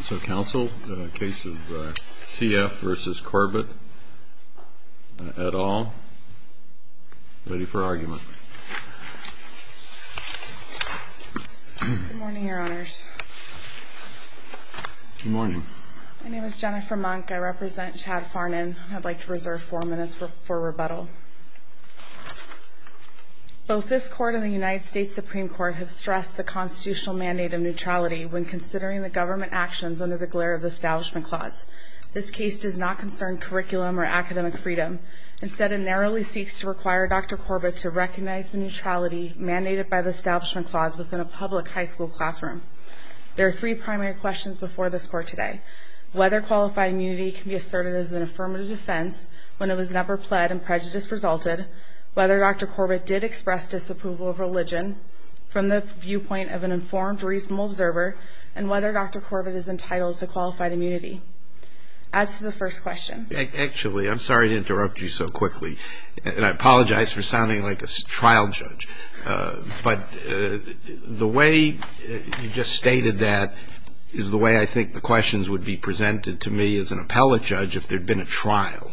So, Counsel, the case of C.F. v. Corbett, et al., ready for argument. Good morning, Your Honors. Good morning. My name is Jennifer Monk. I represent Chad Farnan. I'd like to reserve four minutes for rebuttal. Both this Court and the United States Supreme Court have stressed the constitutional mandate of neutrality when considering the government actions under the glare of the Establishment Clause. This case does not concern curriculum or academic freedom. Instead, it narrowly seeks to require Dr. Corbett to recognize the neutrality mandated by the Establishment Clause within a public high school classroom. There are three primary questions before this Court today. Whether qualified immunity can be asserted as an affirmative defense when it was never pled and prejudice resulted, whether Dr. Corbett did express disapproval of religion from the viewpoint of an informed, reasonable observer, and whether Dr. Corbett is entitled to qualified immunity. As to the first question. Actually, I'm sorry to interrupt you so quickly. And I apologize for sounding like a trial judge. But the way you just stated that is the way I think the questions would be presented to me as an appellate judge if there had been a trial.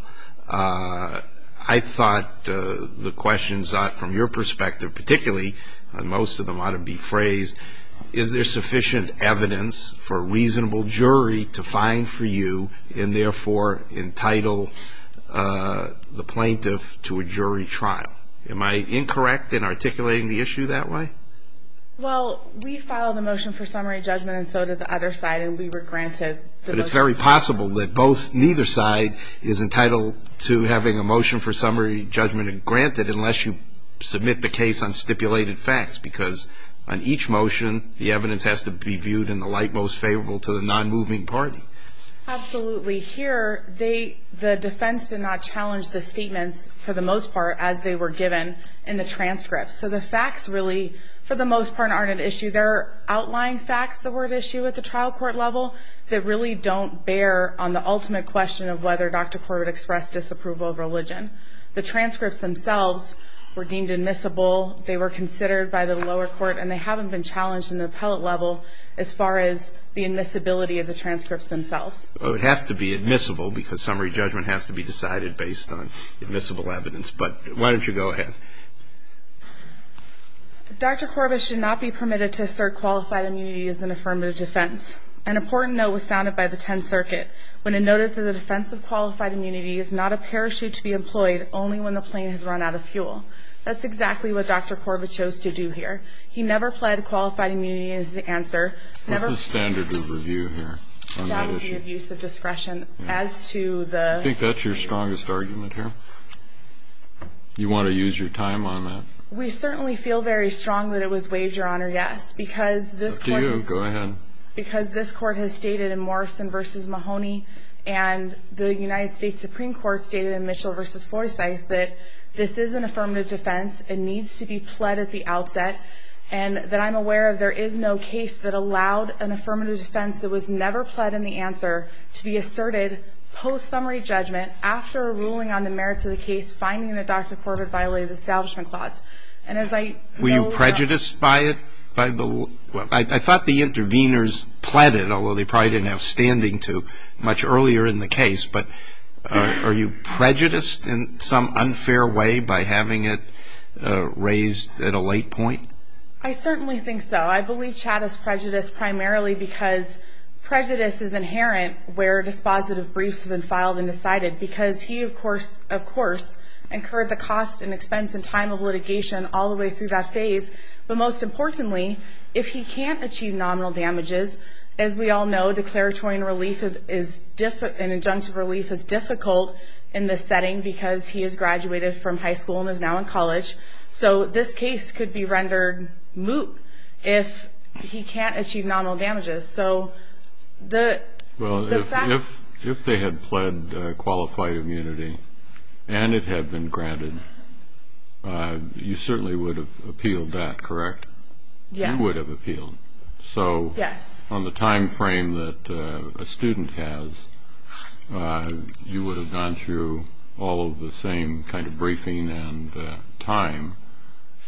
I thought the questions from your perspective, particularly, and most of them ought to be phrased, is there sufficient evidence for a reasonable jury to find for you and therefore entitle the plaintiff to a jury trial? Am I incorrect in articulating the issue that way? Well, we filed a motion for summary judgment and so did the other side, and we were granted the motion. But it's very possible that neither side is entitled to having a motion for summary judgment and granted it unless you submit the case on stipulated facts. Because on each motion, the evidence has to be viewed in the light most favorable to the non-moving party. Absolutely. Here, the defense did not challenge the statements, for the most part, as they were given in the transcript. So the facts really, for the most part, aren't an issue. There are outlying facts that were at issue at the trial court level that really don't bear on the ultimate question of whether Dr. Corbis expressed disapproval of religion. The transcripts themselves were deemed admissible. They were considered by the lower court, and they haven't been challenged in the appellate level as far as the admissibility of the transcripts themselves. It would have to be admissible because summary judgment has to be decided based on admissible evidence. But why don't you go ahead. Dr. Corbis should not be permitted to assert qualified immunity as an affirmative defense. An important note was sounded by the Tenth Circuit when it noted that the defense of qualified immunity is not a parachute to be employed only when the plane has run out of fuel. That's exactly what Dr. Corbis chose to do here. He never pled qualified immunity as the answer. What's the standard of review here on that issue? That would be abuse of discretion. I think that's your strongest argument here. You want to use your time on that? We certainly feel very strong that it was waived, Your Honor, yes. Because this court has stated in Morrison v. Mahoney and the United States Supreme Court stated in Mitchell v. Forsyth that this is an affirmative defense and needs to be pled at the outset. And that I'm aware of there is no case that allowed an affirmative defense that was never pled in the answer to be asserted post-summary judgment after a ruling on the merits of the case finding that Dr. Corbis violated the Establishment Clause. Were you prejudiced by it? I thought the interveners pled it, although they probably didn't have standing to much earlier in the case. But are you prejudiced in some unfair way by having it raised at a late point? I certainly think so. I believe Chad is prejudiced primarily because prejudice is inherent where dispositive briefs have been filed and decided. Because he, of course, incurred the cost and expense and time of litigation all the way through that phase. But most importantly, if he can't achieve nominal damages, as we all know declaratory and injunctive relief is difficult in this setting because he has graduated from high school and is now in college. So this case could be rendered moot if he can't achieve nominal damages. Well, if they had pled qualified immunity and it had been granted, you certainly would have appealed that, correct? Yes. You would have appealed. So on the time frame that a student has, you would have gone through all of the same kind of briefing and time.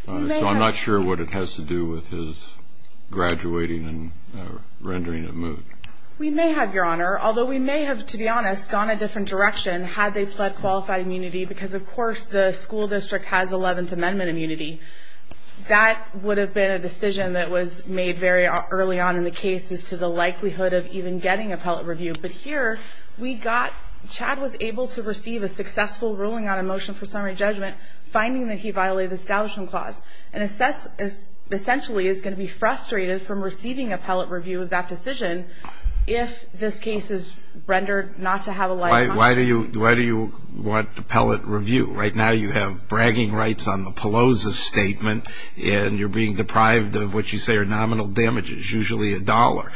So I'm not sure what it has to do with his graduating and rendering it moot. We may have, Your Honor. Although we may have, to be honest, gone a different direction had they pled qualified immunity because, of course, the school district has Eleventh Amendment immunity. That would have been a decision that was made very early on in the case as to the likelihood of even getting appellate review. But here we got Chad was able to receive a successful ruling on a motion for summary judgment, finding that he violated the Establishment Clause and essentially is going to be frustrated from receiving appellate review of that decision if this case is rendered not to have a liability. Why do you want appellate review? Right now you have bragging rights on the Pelosi statement and you're being deprived of what you say are nominal damages, usually a dollar.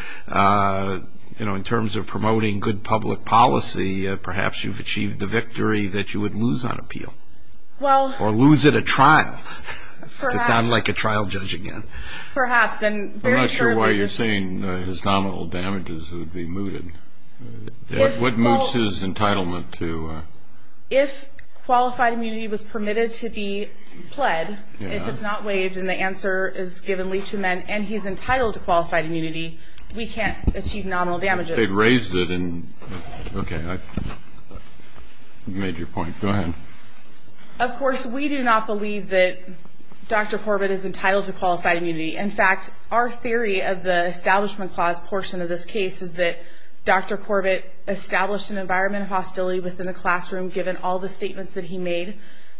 In terms of promoting good public policy, perhaps you've achieved the victory that you would lose on appeal. Or lose at a trial, to sound like a trial judge again. Perhaps. I'm not sure why you're saying his nominal damages would be mooted. What moots his entitlement to? If qualified immunity was permitted to be pled, if it's not waived and the answer is given legally to men and he's entitled to qualified immunity, we can't achieve nominal damages. They've raised it. Okay. You made your point. Go ahead. Of course, we do not believe that Dr. Corbett is entitled to qualified immunity. In fact, our theory of the Establishment Clause portion of this case is that Dr. Corbett established an environment of hostility within the classroom given all the statements that he made,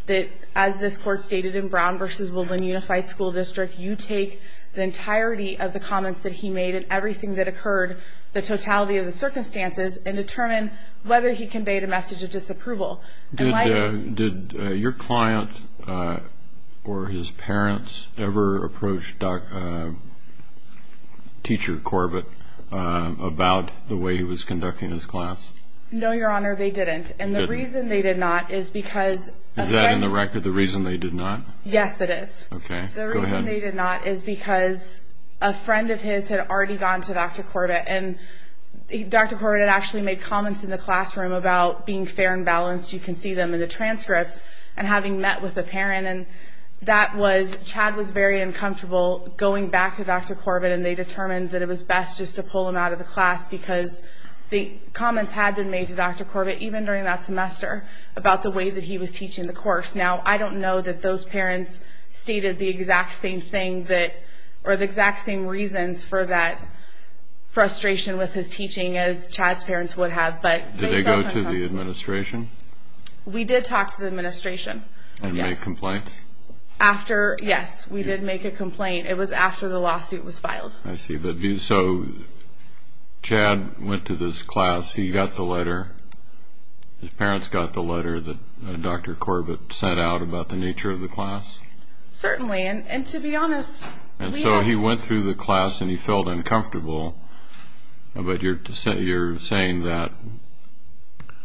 that as this Court stated in Brown v. Woodland Unified School District, you take the entirety of the comments that he made and everything that occurred, the totality of the circumstances, and determine whether he conveyed a message of disapproval. Did your client or his parents ever approach Teacher Corbett about the way he was conducting his class? No, Your Honor, they didn't. They didn't? And the reason they did not is because a friend... Is that in the record the reason they did not? Yes, it is. Okay. Go ahead. The reason they did not is because a friend of his had already gone to Dr. Corbett and Dr. Corbett had actually made comments in the classroom about being fair and balanced, you can see them in the transcripts, and having met with a parent, and that was... Chad was very uncomfortable going back to Dr. Corbett and they determined that it was best just to pull him out of the class because the comments had been made to Dr. Corbett, even during that semester, about the way that he was teaching the course. Now, I don't know that those parents stated the exact same thing that... or the exact same reasons for that frustration with his teaching as Chad's parents would have, but... Did you go to the administration? We did talk to the administration. And make complaints? Yes, we did make a complaint. It was after the lawsuit was filed. I see. So Chad went to this class, he got the letter, his parents got the letter that Dr. Corbett sent out about the nature of the class? Certainly, and to be honest... And so he went through the class and he felt uncomfortable, but you're saying that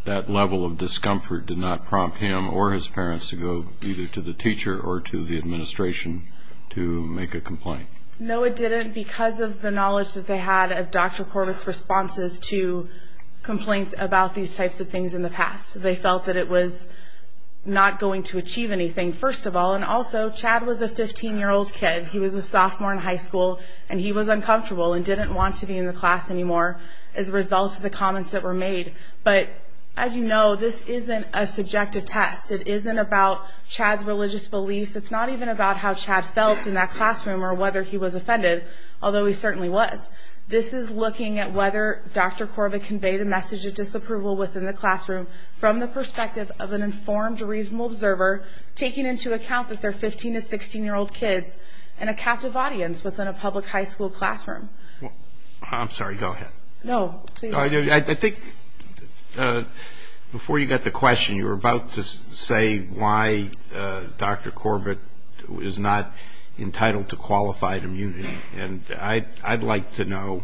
that level of discomfort did not prompt him or his parents to go either to the teacher or to the administration to make a complaint? No, it didn't, because of the knowledge that they had of Dr. Corbett's responses to complaints about these types of things in the past. They felt that it was not going to achieve anything, first of all. And also, Chad was a 15-year-old kid. He was a sophomore in high school and he was uncomfortable and didn't want to be in the class anymore as a result of the comments that were made. But as you know, this isn't a subjective test. It isn't about Chad's religious beliefs. It's not even about how Chad felt in that classroom or whether he was offended, although he certainly was. This is looking at whether Dr. Corbett conveyed a message of disapproval within the classroom from the perspective of an informed, reasonable observer taking into account that they're 15- to 16-year-old kids and a captive audience within a public high school classroom. I'm sorry, go ahead. No, please. I think before you got the question, you were about to say why Dr. Corbett is not entitled to qualified immunity. And I'd like to know,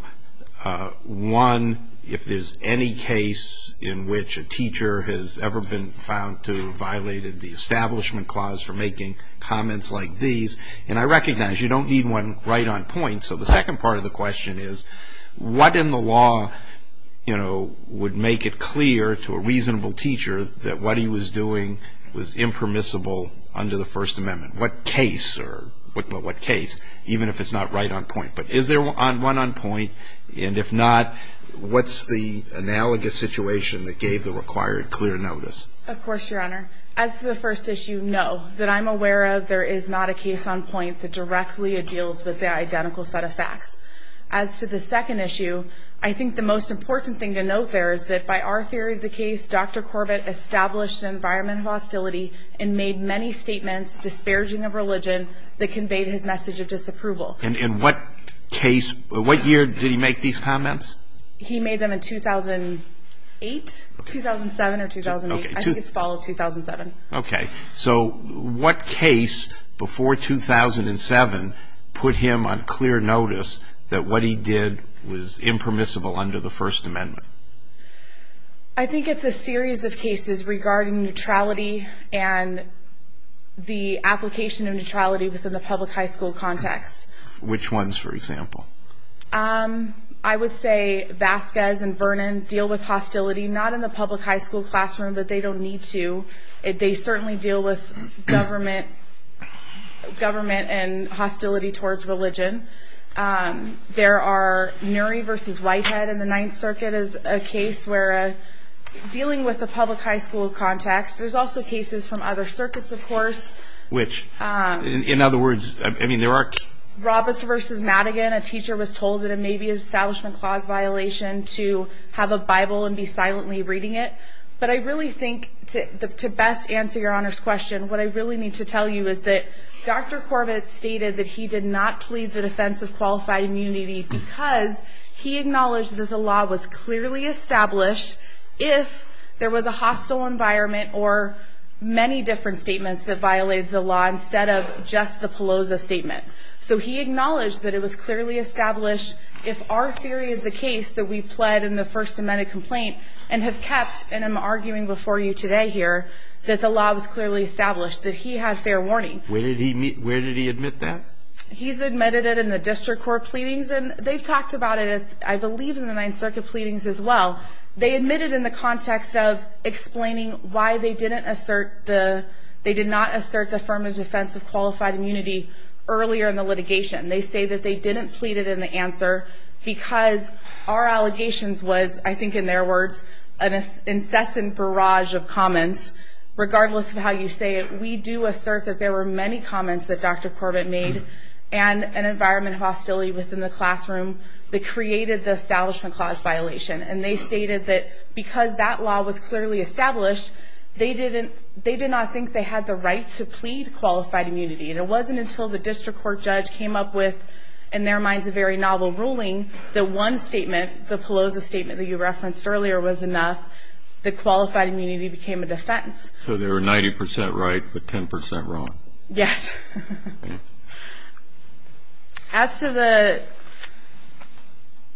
one, if there's any case in which a teacher has ever been found to have violated the Establishment Clause for making comments like these. And I recognize you don't need one right on point. So the second part of the question is, what in the law, you know, would make it clear to a reasonable teacher that what he was doing was impermissible under the First Amendment? What case or what case, even if it's not right on point? But is there one on point? And if not, what's the analogous situation that gave the required clear notice? Of course, Your Honor. As to the first issue, no, that I'm aware of, there is not a case on point that directly deals with the identical set of facts. As to the second issue, I think the most important thing to note there is that by our theory of the case, Dr. Corbett established an environment of hostility and made many statements disparaging of religion that conveyed his message of disapproval. And in what case, what year did he make these comments? He made them in 2008, 2007 or 2008. I think it's fall of 2007. Okay. So what case before 2007 put him on clear notice that what he did was impermissible under the First Amendment? I think it's a series of cases regarding neutrality and the application of neutrality within the public high school context. Which ones, for example? I would say Vasquez and Vernon deal with hostility not in the public high school classroom, but they don't need to. They certainly deal with government and hostility towards religion. There are Nury v. Whitehead in the Ninth Circuit is a case where, dealing with the public high school context, there's also cases from other circuits, of course. Which, in other words, I mean there are Robbins v. Madigan, a teacher was told that it may be an Establishment Clause violation to have a Bible and be silently reading it. But I really think to best answer Your Honor's question, what I really need to tell you is that Dr. Corbett stated that he did not plead the defense of qualified immunity because he acknowledged that the law was clearly established if there was a hostile environment or many different statements that violated the law instead of just the Peloza statement. So he acknowledged that it was clearly established if our theory of the case that we pled in the First Amendment complaint and have kept, and I'm arguing before you today here, that the law was clearly established, that he had fair warning. Where did he admit that? He's admitted it in the District Court pleadings, and they've talked about it, I believe, in the Ninth Circuit pleadings as well. They admit it in the context of explaining why they did not assert the affirmative defense of qualified immunity earlier in the litigation. They say that they didn't plead it in the answer because our allegations was, I think in their words, an incessant barrage of comments. Regardless of how you say it, we do assert that there were many comments that Dr. Corbett made and an environment of hostility within the classroom that created the Establishment Clause violation. And they stated that because that law was clearly established, they did not think they had the right to plead qualified immunity. And it wasn't until the District Court judge came up with, in their minds, a very novel ruling, that one statement, the Pelosi statement that you referenced earlier was enough, that qualified immunity became a defense. So they were 90% right but 10% wrong. Yes. As to the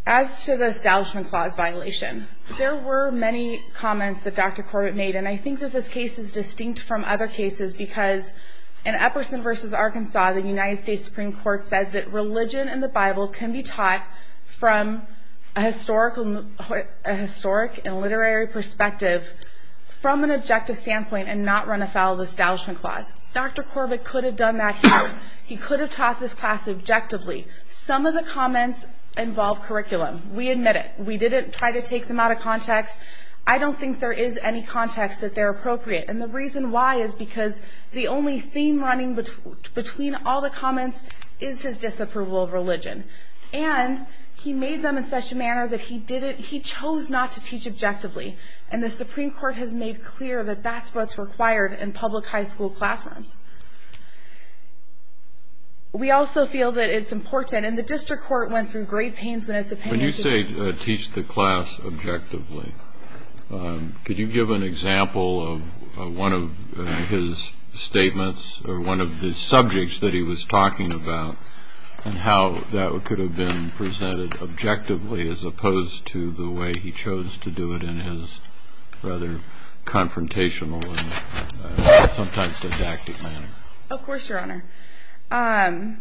Establishment Clause violation, there were many comments that Dr. Corbett made, and I think that this case is distinct from other cases because in Epperson v. Arkansas, the United States Supreme Court said that religion and the Bible can be taught from a historic and literary perspective from an objective standpoint and not run afoul of the Establishment Clause. Dr. Corbett could have done that here. He could have taught this class objectively. Some of the comments involve curriculum. We admit it. We didn't try to take them out of context. I don't think there is any context that they're appropriate. And the reason why is because the only theme running between all the comments is his disapproval of religion. And he made them in such a manner that he chose not to teach objectively, and the Supreme Court has made clear that that's what's required in public high school classrooms. We also feel that it's important, and the district court went through great pains in its opinion. When you say teach the class objectively, could you give an example of one of his statements or one of the subjects that he was talking about and how that could have been presented objectively as opposed to the way he chose to do it in his rather confrontational and sometimes didactic manner? Of course, Your Honor.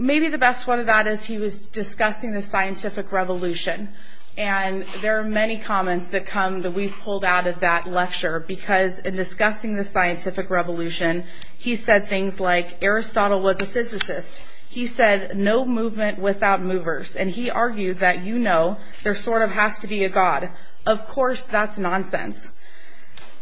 Maybe the best one of that is he was discussing the scientific revolution, and there are many comments that come that we've pulled out of that lecture because in discussing the scientific revolution, he said things like, Aristotle was a physicist. He said, no movement without movers. And he argued that, you know, there sort of has to be a God. Of course, that's nonsense.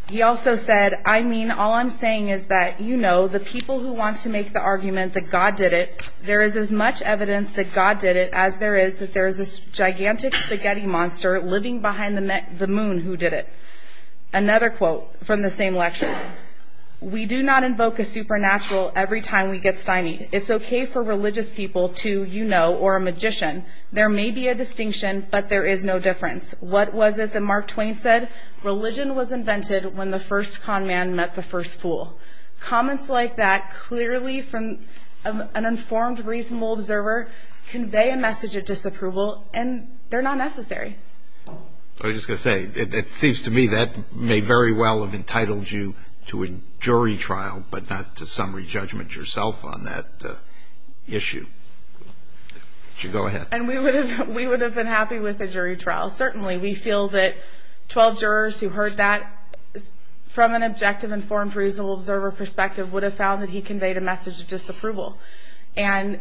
He also said, I mean, all I'm saying is that, you know, the people who want to make the argument that God did it, there is as much evidence that God did it as there is that there is a gigantic spaghetti monster living behind the moon who did it. Another quote from the same lecture. We do not invoke a supernatural every time we get stymied. It's okay for religious people to, you know, or a magician. There may be a distinction, but there is no difference. What was it that Mark Twain said? Religion was invented when the first con man met the first fool. Comments like that clearly from an informed, reasonable observer convey a message of disapproval, and they're not necessary. I was just going to say, it seems to me that may very well have entitled you to a jury trial, but not to summary judgment yourself on that issue. Go ahead. And we would have been happy with a jury trial, certainly. We feel that 12 jurors who heard that from an objective, informed, reasonable observer perspective would have found that he conveyed a message of disapproval. And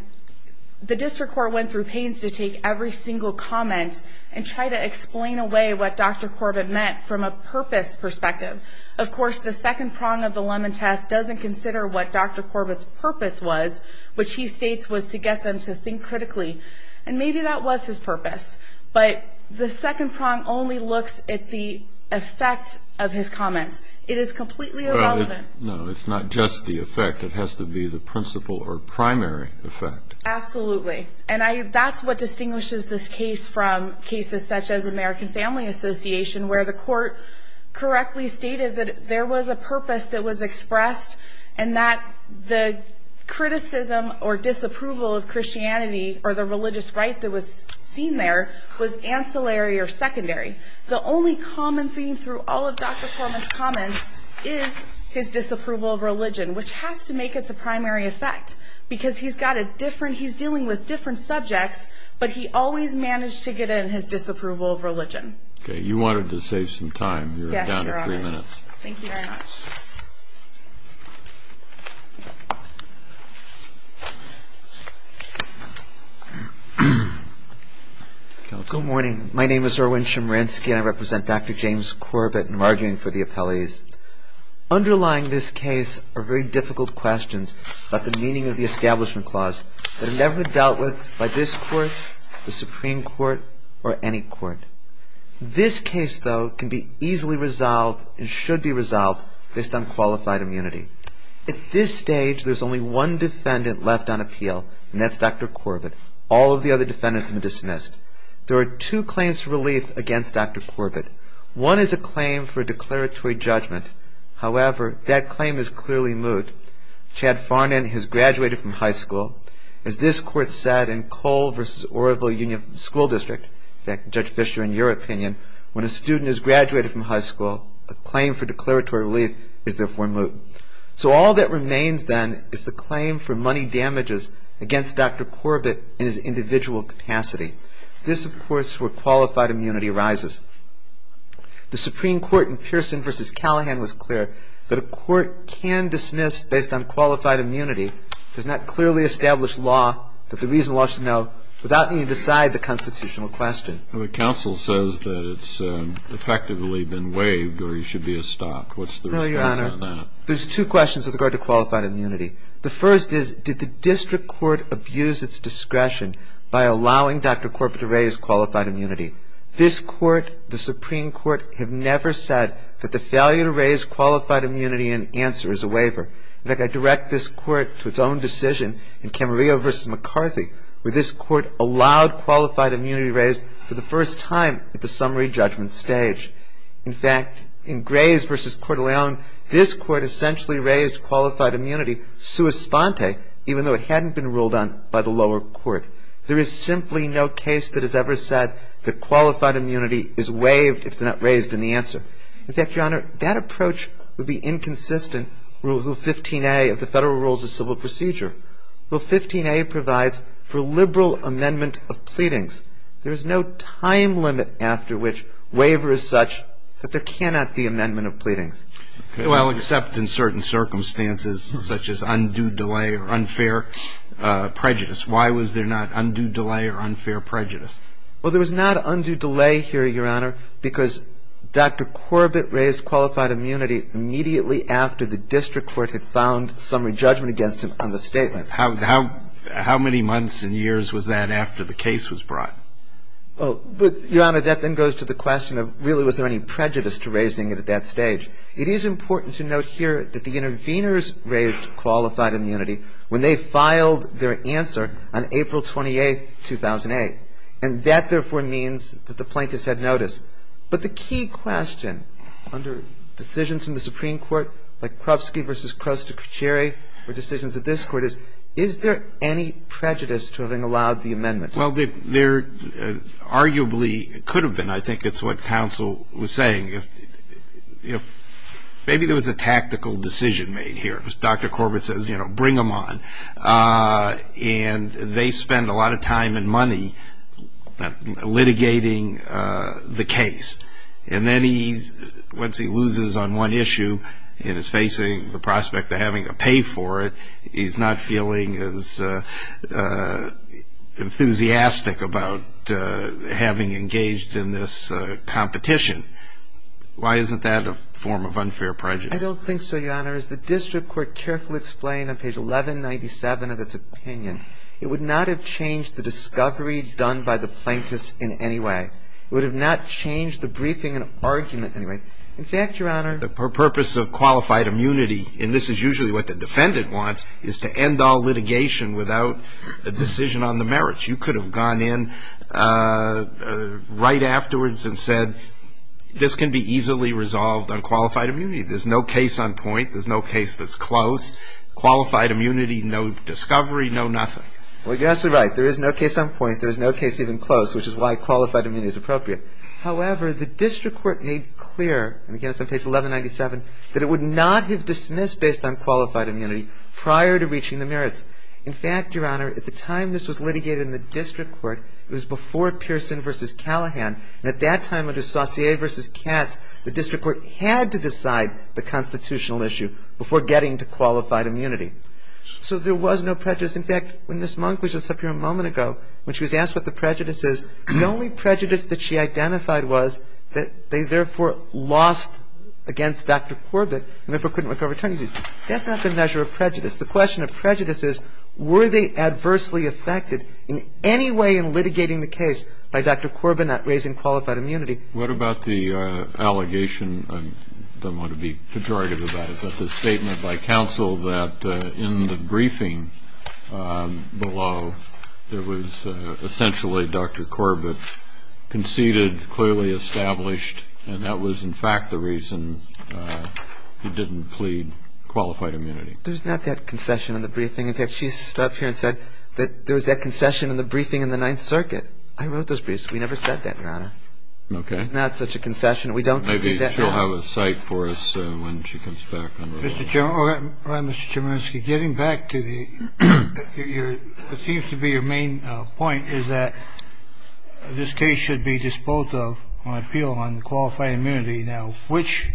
the district court went through pains to take every single comment and try to explain away what Dr. Corbett meant from a purpose perspective. Of course, the second prong of the Lemon Test doesn't consider what Dr. Corbett's purpose was, which he states was to get them to think critically. And maybe that was his purpose. But the second prong only looks at the effect of his comments. It is completely irrelevant. No, it's not just the effect. It has to be the principal or primary effect. Absolutely. And that's what distinguishes this case from cases such as American Family Association, where the court correctly stated that there was a purpose that was expressed and that the criticism or disapproval of Christianity or the religious rite that was seen there was ancillary or secondary. The only common theme through all of Dr. Corbett's comments is his disapproval of religion, which has to make it the primary effect because he's got a different and he's dealing with different subjects, but he always managed to get in his disapproval of religion. Okay. You wanted to save some time. You're down to three minutes. Yes, Your Honors. Thank you very much. Good morning. My name is Erwin Chemerinsky, and I represent Dr. James Corbett, and I'm arguing for the appellees. Underlying this case are very difficult questions about the meaning of the Establishment Clause that have never been dealt with by this court, the Supreme Court, or any court. This case, though, can be easily resolved and should be resolved based on qualified immunity. At this stage, there's only one defendant left on appeal, and that's Dr. Corbett. All of the other defendants have been dismissed. There are two claims for relief against Dr. Corbett. One is a claim for a declaratory judgment. However, that claim is clearly moot. Chad Farnan has graduated from high school. As this court said in Cole v. Oroville Union School District, in fact, Judge Fischer, in your opinion, when a student has graduated from high school, a claim for declaratory relief is therefore moot. So all that remains, then, is the claim for money damages against Dr. Corbett in his individual capacity. This, of course, is where qualified immunity arises. The Supreme Court in Pearson v. Callahan was clear that a court can dismiss, based on qualified immunity, does not clearly establish law that the reason law should know without needing to decide the constitutional question. But counsel says that it's effectively been waived or he should be stopped. What's the response on that? No, Your Honor. There's two questions with regard to qualified immunity. The first is, did the district court abuse its discretion by allowing Dr. Corbett to raise qualified immunity? This court, the Supreme Court, have never said that the failure to raise qualified immunity in answer is a waiver. In fact, I direct this court to its own decision in Camarillo v. McCarthy, where this court allowed qualified immunity raised for the first time at the summary judgment stage. In fact, in Graves v. Coeur d'Alene, this court essentially raised qualified immunity sua sponte, even though it hadn't been ruled on by the lower court. There is simply no case that has ever said that qualified immunity is waived if it's not raised in the answer. In fact, Your Honor, that approach would be inconsistent with Rule 15a of the Federal Rules of Civil Procedure. Rule 15a provides for liberal amendment of pleadings. There is no time limit after which waiver is such that there cannot be amendment of pleadings. Well, except in certain circumstances, such as undue delay or unfair prejudice. Why was there not undue delay or unfair prejudice? Well, there was not undue delay here, Your Honor, because Dr. Corbett raised qualified immunity immediately after the district court had found summary judgment against him on the statement. How many months and years was that after the case was brought? Your Honor, that then goes to the question of really was there any prejudice to raising it at that stage. It is important to note here that the interveners raised qualified immunity. When they filed their answer on April 28th, 2008, and that, therefore, means that the plaintiffs had notice. But the key question under decisions in the Supreme Court, like Krupski v. Kruster-Ciceri, or decisions of this court is, is there any prejudice to having allowed the amendment? Well, there arguably could have been. I think it's what counsel was saying. You know, maybe there was a tactical decision made here. Dr. Corbett says, you know, bring them on. And they spend a lot of time and money litigating the case. And then once he loses on one issue and is facing the prospect of having to pay for it, he's not feeling as enthusiastic about having engaged in this competition. Why isn't that a form of unfair prejudice? I don't think so, Your Honor. As the district court carefully explained on page 1197 of its opinion, it would not have changed the discovery done by the plaintiffs in any way. It would have not changed the briefing and argument in any way. In fact, Your Honor, the purpose of qualified immunity, and this is usually what the defendant wants, is to end all litigation without a decision on the merits. You could have gone in right afterwards and said, this can be easily resolved on qualified immunity. There's no case on point. There's no case that's close. Qualified immunity, no discovery, no nothing. Well, yes, you're right. There is no case on point. There is no case even close, which is why qualified immunity is appropriate. However, the district court made clear, and again it's on page 1197, that it would not have dismissed based on qualified immunity prior to reaching the merits. In fact, Your Honor, at the time this was litigated in the district court, it was before Pearson v. Callahan. And at that time under Saussure v. Katz, the district court had to decide the constitutional issue before getting to qualified immunity. So there was no prejudice. In fact, when this monk was just up here a moment ago, when she was asked what the prejudice is, the only prejudice that she identified was that they therefore lost against Dr. Corbett and therefore couldn't recover from her turn-of-the-season. That's not the measure of prejudice. The question of prejudice is, were they adversely affected in any way in litigating the case by Dr. Corbett not raising qualified immunity? What about the allegation? I don't want to be pejorative about it, but the statement by counsel that in the briefing below, there was essentially Dr. Corbett conceded, clearly established, and that was in fact the reason he didn't plead qualified immunity. There's not that concession in the briefing. In fact, she stood up here and said that there was that concession in the briefing in the Ninth Circuit. I wrote those briefs. We never said that, Your Honor. Okay. There's not such a concession. We don't concede that, Your Honor. Maybe she'll have a cite for us when she comes back. Mr. Chairman, Mr. Chemerinsky, getting back to the seems to be your main point, is that this case should be disposed of on appeal on qualified immunity. Now, which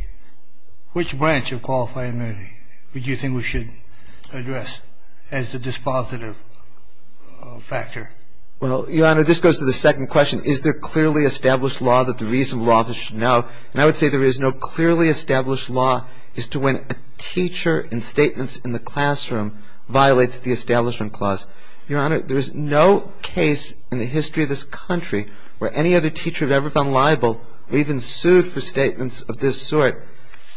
branch of qualified immunity do you think we should address as the dispositive factor? Well, Your Honor, this goes to the second question. Is there clearly established law that the reasonable office should know? And I would say there is no clearly established law as to when a teacher in statements in the classroom violates the Establishment Clause. Your Honor, there is no case in the history of this country where any other teacher had ever been liable or even sued for statements of this sort.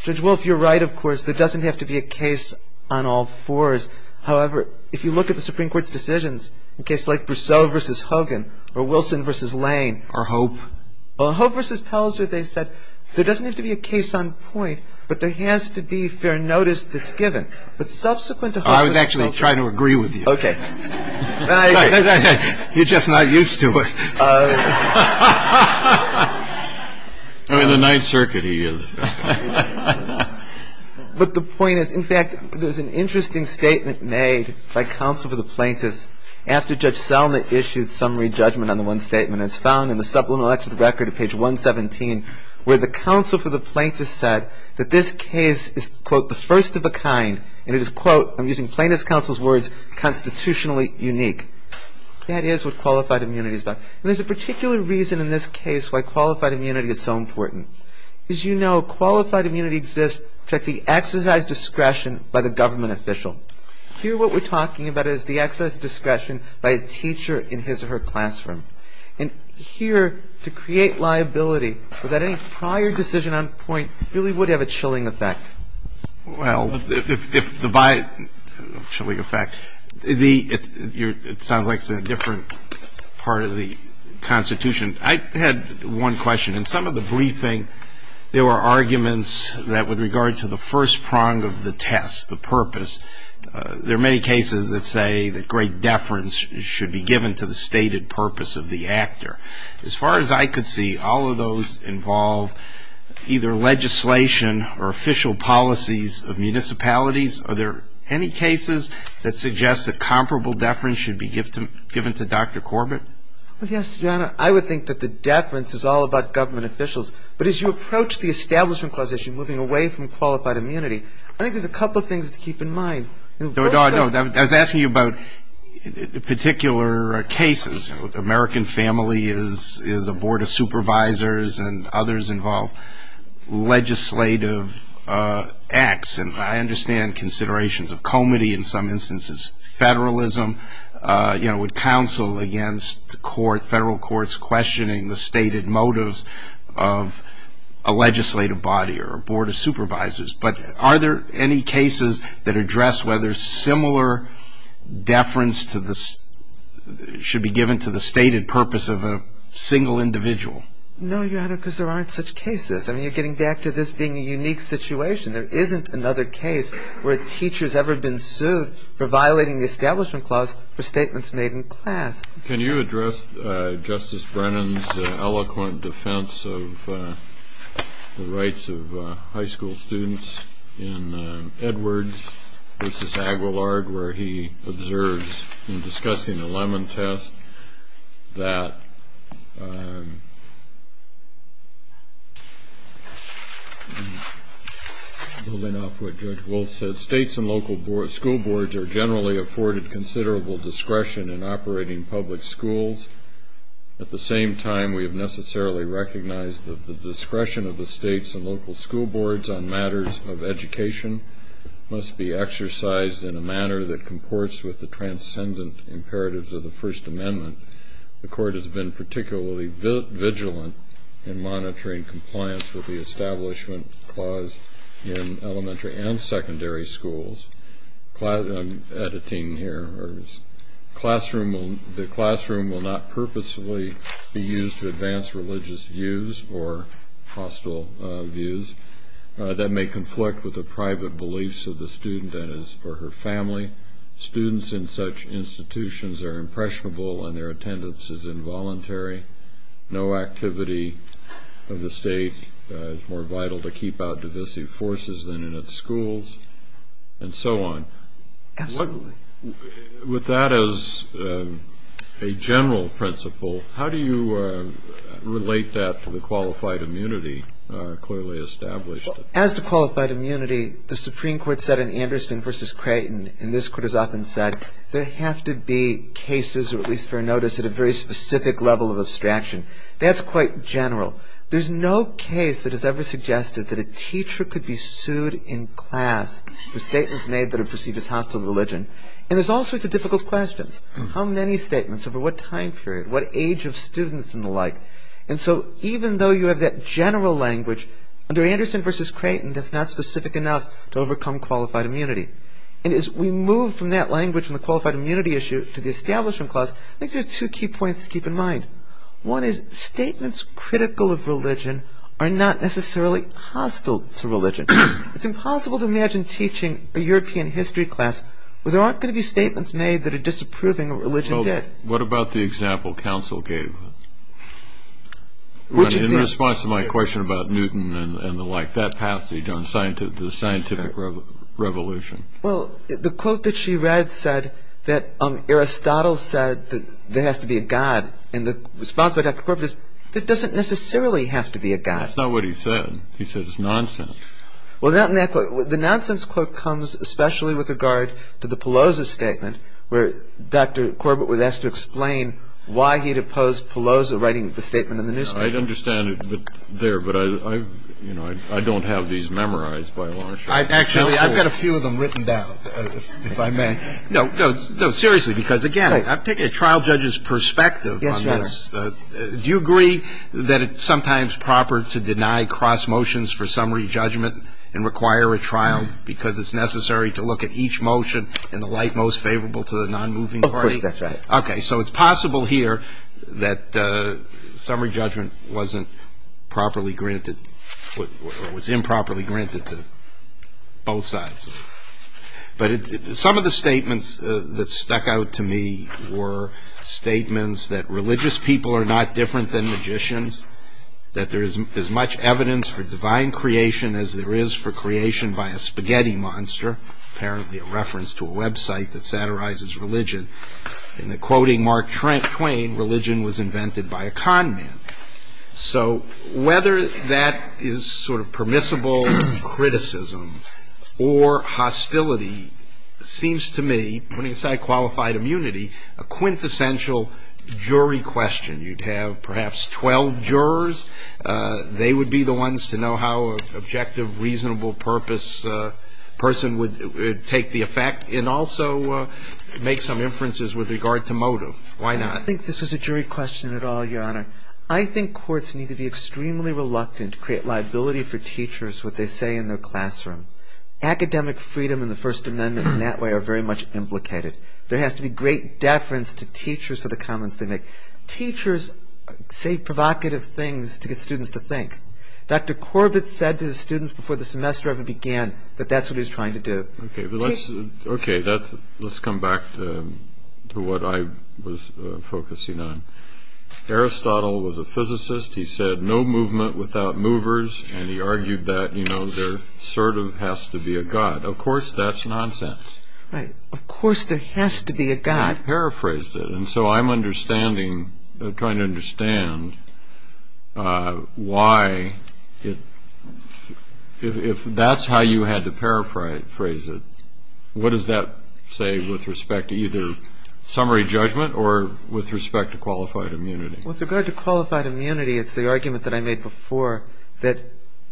Judge Wolf, you're right, of course. There doesn't have to be a case on all fours. However, if you look at the Supreme Court's decisions in cases like Brousseau v. Hogan or Wilson v. Lane. Or Hope. Well, in Hope v. Pelzer, they said there doesn't have to be a case on point, but there has to be fair notice that's given. But subsequent to Hope v. Pelzer. I was actually trying to agree with you. Okay. You're just not used to it. In the Ninth Circuit he is. But the point is, in fact, there's an interesting statement made by counsel for the plaintiffs after Judge Selma issued summary judgment on the one statement. It's found in the Supplemental Exhibit Record at page 117 where the counsel for the plaintiffs said that this case is, quote, the first of a kind. And it is, quote, I'm using plaintiff's counsel's words, constitutionally unique. That is what qualified immunity is about. And there's a particular reason in this case why qualified immunity is so important. As you know, qualified immunity exists at the exercise discretion by the government official. Here what we're talking about is the exercise discretion by a teacher in his or her classroom. And here to create liability without any prior decision on point really would have a chilling effect. Well, if the by chilling effect, it sounds like it's a different part of the Constitution. I had one question. In some of the briefing there were arguments that with regard to the first prong of the test, the purpose, there are many cases that say that great deference should be given to the stated purpose of the actor. As far as I could see, all of those involve either legislation or official policies of municipalities. Are there any cases that suggest that comparable deference should be given to Dr. Corbett? Well, yes, John. I would think that the deference is all about government officials. But as you approach the Establishment Clause issue, moving away from qualified immunity, I think there's a couple of things to keep in mind. I was asking you about particular cases. American Family is a board of supervisors and others involve legislative acts. And I understand considerations of comity in some instances, federalism, you know, government counsel against federal courts questioning the stated motives of a legislative body or a board of supervisors. But are there any cases that address whether similar deference should be given to the stated purpose of a single individual? No, Your Honor, because there aren't such cases. I mean, you're getting back to this being a unique situation. There isn't another case where a teacher has ever been sued for violating the Establishment Clause for statements made in class. Can you address Justice Brennan's eloquent defense of the rights of high school students in Edwards v. Aguilard, where he observes in discussing the Lemon Test that states and local school boards are generally afforded considerable discretion in operating public schools. At the same time, we have necessarily recognized that the discretion of the states and local school boards on matters of education must be exercised in a manner that comports with the transcendent imperatives of the First Amendment. The Court has been particularly vigilant in monitoring compliance with the Establishment Clause in elementary and secondary schools. I'm editing here. The classroom will not purposefully be used to advance religious views or hostile views. That may conflict with the private beliefs of the student and his or her family. Students in such institutions are impressionable and their attendance is involuntary. No activity of the state is more vital to keep out divisive forces than in its schools, and so on. Absolutely. With that as a general principle, how do you relate that to the qualified immunity clearly established? As to qualified immunity, the Supreme Court said in Anderson v. Creighton, and this Court has often said, there have to be cases, or at least for notice, at a very specific level of abstraction. That's quite general. There's no case that has ever suggested that a teacher could be sued in class for statements made that are perceived as hostile to religion. And there's all sorts of difficult questions. How many statements? Over what time period? What age of students and the like? And so even though you have that general language, under Anderson v. Creighton, that's not specific enough to overcome qualified immunity. And as we move from that language and the qualified immunity issue to the Establishment Clause, I think there's two key points to keep in mind. One is statements critical of religion are not necessarily hostile to religion. It's impossible to imagine teaching a European history class where there aren't going to be statements made that are disapproving of religion. What about the example counsel gave? Which example? That's my question about Newton and the like, that passage on the scientific revolution. Well, the quote that she read said that Aristotle said that there has to be a god, and the response by Dr. Corbett is, that doesn't necessarily have to be a god. That's not what he said. He said it's nonsense. Well, not in that quote. The nonsense quote comes especially with regard to the Pelosi statement, where Dr. Corbett was asked to explain why he'd opposed Pelosi writing the statement in the newspaper. I understand it there, but I don't have these memorized by long shot. Actually, I've got a few of them written down, if I may. No, seriously, because, again, I'm taking a trial judge's perspective on this. Yes, Your Honor. Do you agree that it's sometimes proper to deny cross motions for summary judgment and require a trial because it's necessary to look at each motion in the light most favorable to the nonmoving party? Of course, that's right. Okay, so it's possible here that summary judgment wasn't properly granted or was improperly granted to both sides. But some of the statements that stuck out to me were statements that religious people are not different than magicians, that there is as much evidence for divine creation as there is for creation by a spaghetti monster, apparently a reference to a website that satirizes religion. In the quoting Mark Twain, religion was invented by a con man. So whether that is sort of permissible criticism or hostility seems to me, putting aside qualified immunity, a quintessential jury question. You'd have perhaps 12 jurors. They would be the ones to know how an objective, reasonable purpose person would take the effect and also make some inferences with regard to motive. Why not? I don't think this was a jury question at all, Your Honor. I think courts need to be extremely reluctant to create liability for teachers what they say in their classroom. Academic freedom and the First Amendment in that way are very much implicated. There has to be great deference to teachers for the comments they make. Teachers say provocative things to get students to think. Dr. Corbett said to the students before the semester even began that that's what he was trying to do. Okay, let's come back to what I was focusing on. Aristotle was a physicist. He said no movement without movers, and he argued that there sort of has to be a God. Of course that's nonsense. Right. Of course there has to be a God. I paraphrased it, and so I'm understanding, trying to understand why if that's how you had to paraphrase it, what does that say with respect to either summary judgment or with respect to qualified immunity? With regard to qualified immunity, it's the argument that I made before that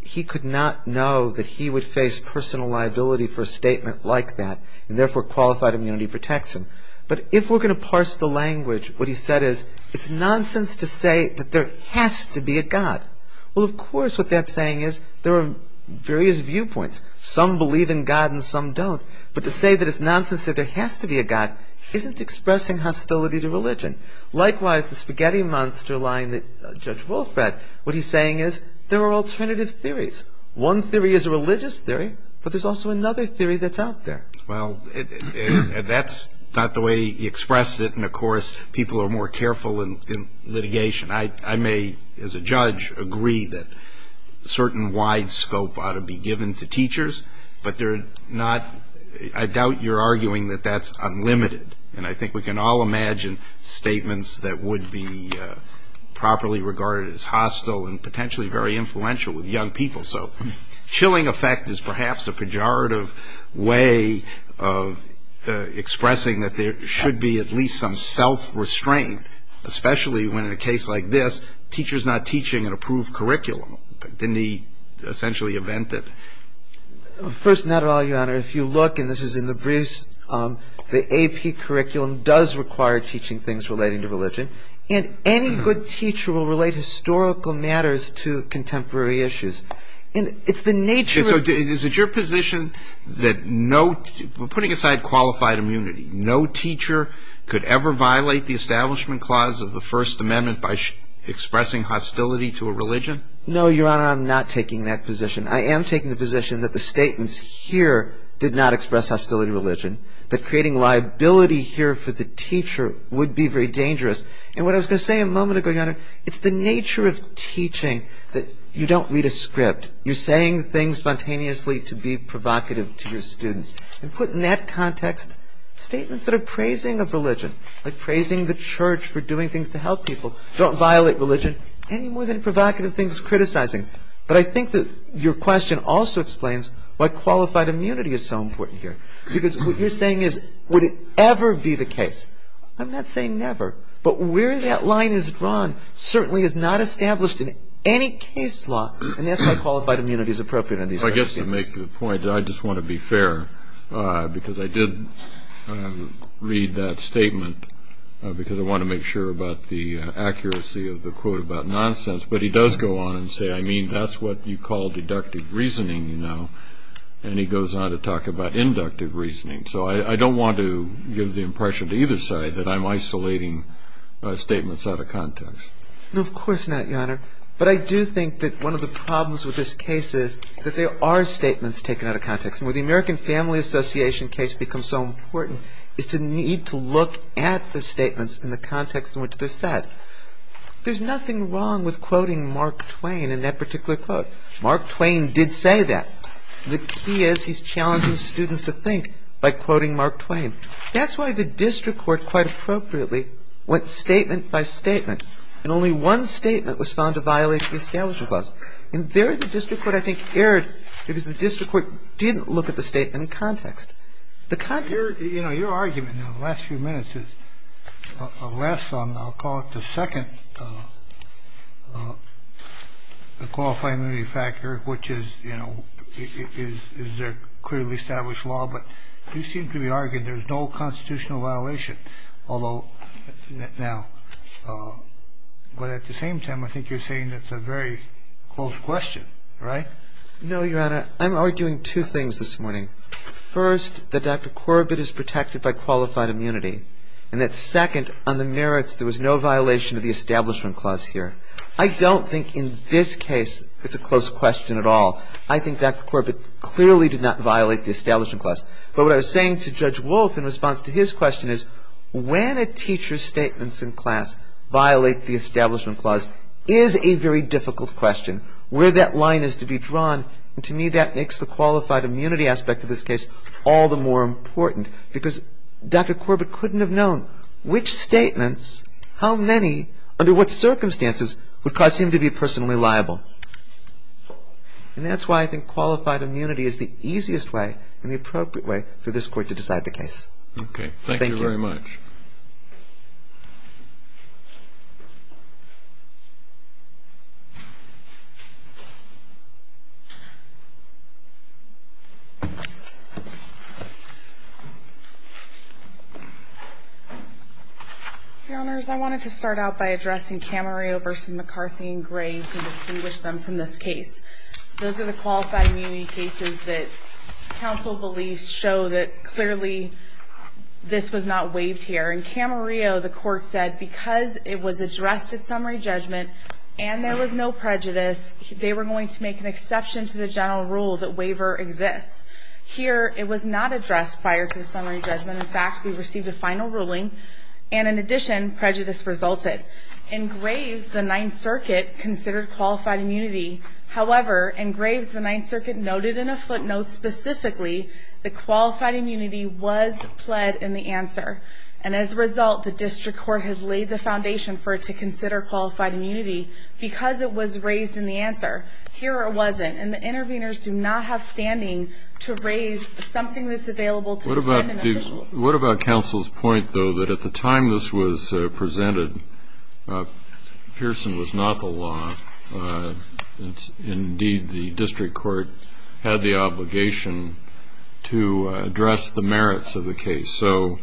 he could not know that he would face personal liability for a statement like that, and therefore qualified immunity protects him. But if we're going to parse the language, what he said is it's nonsense to say that there has to be a God. Well, of course what that's saying is there are various viewpoints. Some believe in God and some don't. But to say that it's nonsense that there has to be a God isn't expressing hostility to religion. Likewise, the spaghetti monster line that Judge Wolf read, what he's saying is there are alternative theories. One theory is a religious theory, but there's also another theory that's out there. Well, that's not the way he expressed it, and, of course, people are more careful in litigation. I may, as a judge, agree that a certain wide scope ought to be given to teachers, but they're not ‑‑ I doubt you're arguing that that's unlimited. And I think we can all imagine statements that would be properly regarded as hostile and potentially very influential with young people. So chilling effect is perhaps a pejorative way of expressing that there should be at least some self-restraint, especially when, in a case like this, teacher's not teaching an approved curriculum. Didn't he essentially invent it? First of all, Your Honor, if you look, and this is in the briefs, the AP curriculum does require teaching things relating to religion, and any good teacher will relate historical matters to contemporary issues. And it's the nature of ‑‑ Is it your position that no ‑‑ putting aside qualified immunity, no teacher could ever violate the Establishment Clause of the First Amendment by expressing hostility to a religion? No, Your Honor, I'm not taking that position. I am taking the position that the statements here did not express hostility to religion, that creating liability here for the teacher would be very dangerous. And what I was going to say a moment ago, Your Honor, it's the nature of teaching that you don't read a script. You're saying things spontaneously to be provocative to your students. And put in that context statements that are praising of religion, like praising the church for doing things to help people, don't violate religion any more than provocative things criticizing. But I think that your question also explains why qualified immunity is so important here. Because what you're saying is, would it ever be the case? I'm not saying never. But where that line is drawn certainly is not established in any case law, and that's why qualified immunity is appropriate in these circumstances. I guess to make the point that I just want to be fair, because I did read that statement, because I wanted to make sure about the accuracy of the quote about nonsense. But he does go on and say, I mean, that's what you call deductive reasoning, you know. And he goes on to talk about inductive reasoning. So I don't want to give the impression to either side that I'm isolating statements out of context. No, of course not, Your Honor. But I do think that one of the problems with this case is that there are statements taken out of context. And where the American Family Association case becomes so important is to need to look at the statements in the context in which they're said. There's nothing wrong with quoting Mark Twain in that particular quote. Mark Twain did say that. The key is he's challenging students to think by quoting Mark Twain. That's why the district court, quite appropriately, went statement by statement. And only one statement was found to violate the Establishment Clause. And there the district court, I think, erred, because the district court didn't look at the statement in context. The context... I'm arguing two things this morning. First, that Dr. Korobit is protected by qualified immunity. And that, second, on the merits, there was no violation of the Establishment Clause here. I don't think in this case it's a close question. I don't think it's a close question. I think Dr. Korobit clearly did not violate the Establishment Clause. But what I was saying to Judge Wolf in response to his question is when a teacher's statements in class violate the Establishment Clause is a very difficult question. Where that line is to be drawn, and to me that makes the qualified immunity aspect of this case all the more important. Because Dr. Korobit couldn't have known which statements, how many, under what circumstances would cause him to be personally liable. And that's why I think qualified immunity is the easiest way and the appropriate way for this Court to decide the case. Okay. Thank you very much. Your Honors, I wanted to start out by addressing Camarillo v. McCarthy and Gray to distinguish them from this case. Those are the qualified immunity cases that counsel believes show that clearly this was not waived here. In Camarillo, the Court said because it was addressed at summary judgment and there was no prejudice, they were going to make an exception to the general rule that waiver exists. Here, it was not addressed prior to the summary judgment. In fact, we received a final ruling. And in addition, prejudice resulted. In Graves, the Ninth Circuit considered qualified immunity. However, in Graves, the Ninth Circuit noted in a footnote specifically that qualified immunity was pled in the answer. And as a result, the District Court has laid the foundation for it to consider qualified immunity because it was raised in the answer. Here, it wasn't. And the interveners do not have standing to raise something that's available to defendant officials. What about counsel's point, though, that at the time this was presented, Pearson was not the law. Indeed, the District Court had the obligation to address the merits of the case. So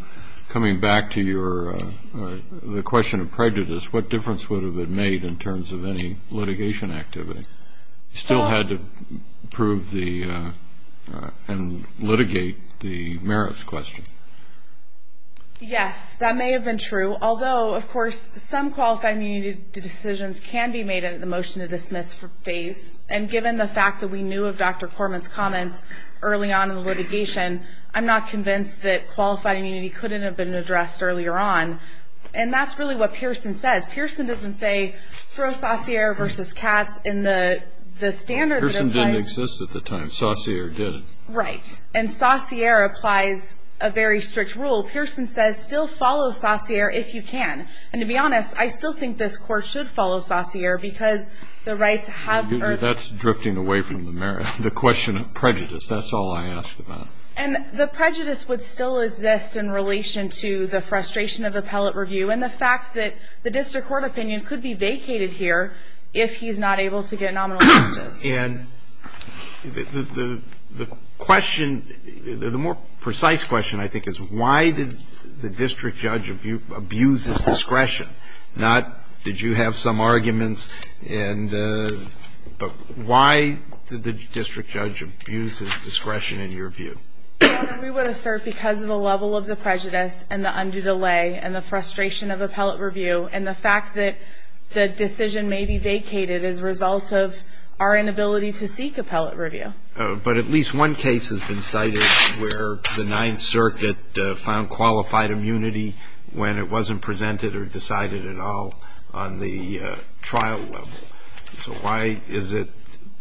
coming back to the question of prejudice, what difference would have it made in terms of any litigation activity? Still had to prove and litigate the merits question. Yes, that may have been true, although, of course, some qualified immunity decisions can be made in the motion to dismiss phase. And given the fact that we knew of Dr. Corman's comments early on in the litigation, I'm not convinced that qualified immunity couldn't have been addressed earlier on. And that's really what Pearson says. Pearson doesn't say throw Saussure versus Katz in the standard that applies. Pearson didn't exist at the time. Saussure did. Right. And Saussure applies a very strict rule. Pearson says still follow Saussure if you can. And to be honest, I still think this Court should follow Saussure because the rights have been. That's drifting away from the merit. The question of prejudice, that's all I asked about. And the prejudice would still exist in relation to the frustration of appellate review and the fact that the District Court opinion could be vacated here if he's not able to get nominal charges. And the question, the more precise question, I think, is why did the district judge abuse his discretion? Not did you have some arguments, but why did the district judge abuse his discretion in your view? Your Honor, we would assert because of the level of the prejudice and the undue delay and the frustration of appellate review and the fact that the decision may be vacated as a result of our inability to seek appellate review. But at least one case has been cited where the Ninth Circuit found qualified immunity when it wasn't presented or decided at all on the trial level. So why is it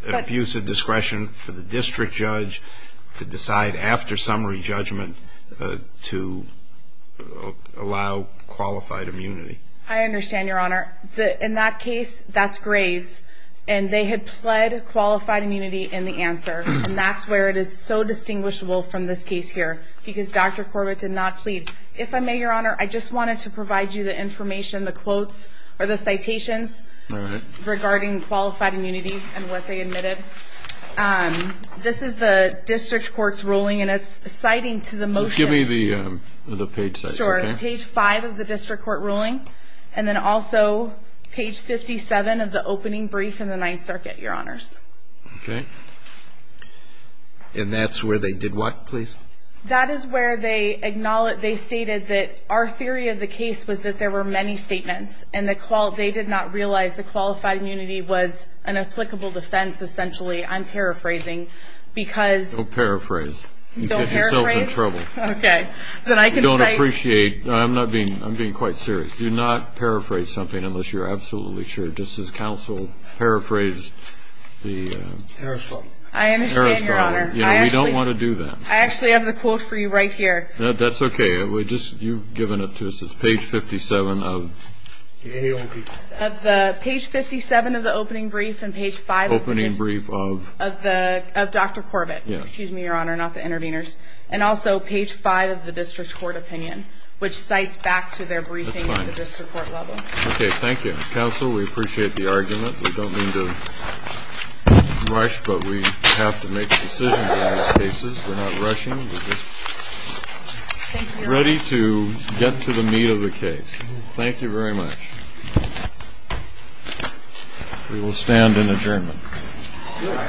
an abuse of discretion for the district judge to decide after summary judgment to allow qualified immunity? I understand, Your Honor. In that case, that's Graves. And they had pled qualified immunity in the answer. And that's where it is so distinguishable from this case here because Dr. Corbett did not plead. If I may, Your Honor, I just wanted to provide you the information, the quotes or the citations regarding qualified immunity and what they admitted. This is the District Court's ruling, and it's citing to the motion. Give me the page size. Sure, page 5 of the District Court ruling. And then also page 57 of the opening brief in the Ninth Circuit, Your Honors. Okay. And that's where they did what, please? That is where they stated that our theory of the case was that there were many statements, and they did not realize that qualified immunity was an applicable defense essentially. I'm paraphrasing because you get yourself in trouble. Don't paraphrase. Okay. You don't appreciate. I'm being quite serious. Do not paraphrase something unless you're absolutely sure. Just as counsel paraphrased the Harris problem. I understand, Your Honor. We don't want to do that. I actually have the quote for you right here. That's okay. You've given it to us. It's page 57 of the opening brief and page 5 of Dr. Corbett. Excuse me, Your Honor, not the interveners. And also page 5 of the District Court opinion, which cites back to their briefing in the District Court level. Okay. Thank you. Counsel, we appreciate the argument. We don't mean to rush, but we have to make decisions in these cases. We're not rushing. We're just ready to get to the meat of the case. Thank you very much. We will stand in adjournment. Thank you, Your Honor. Thank you.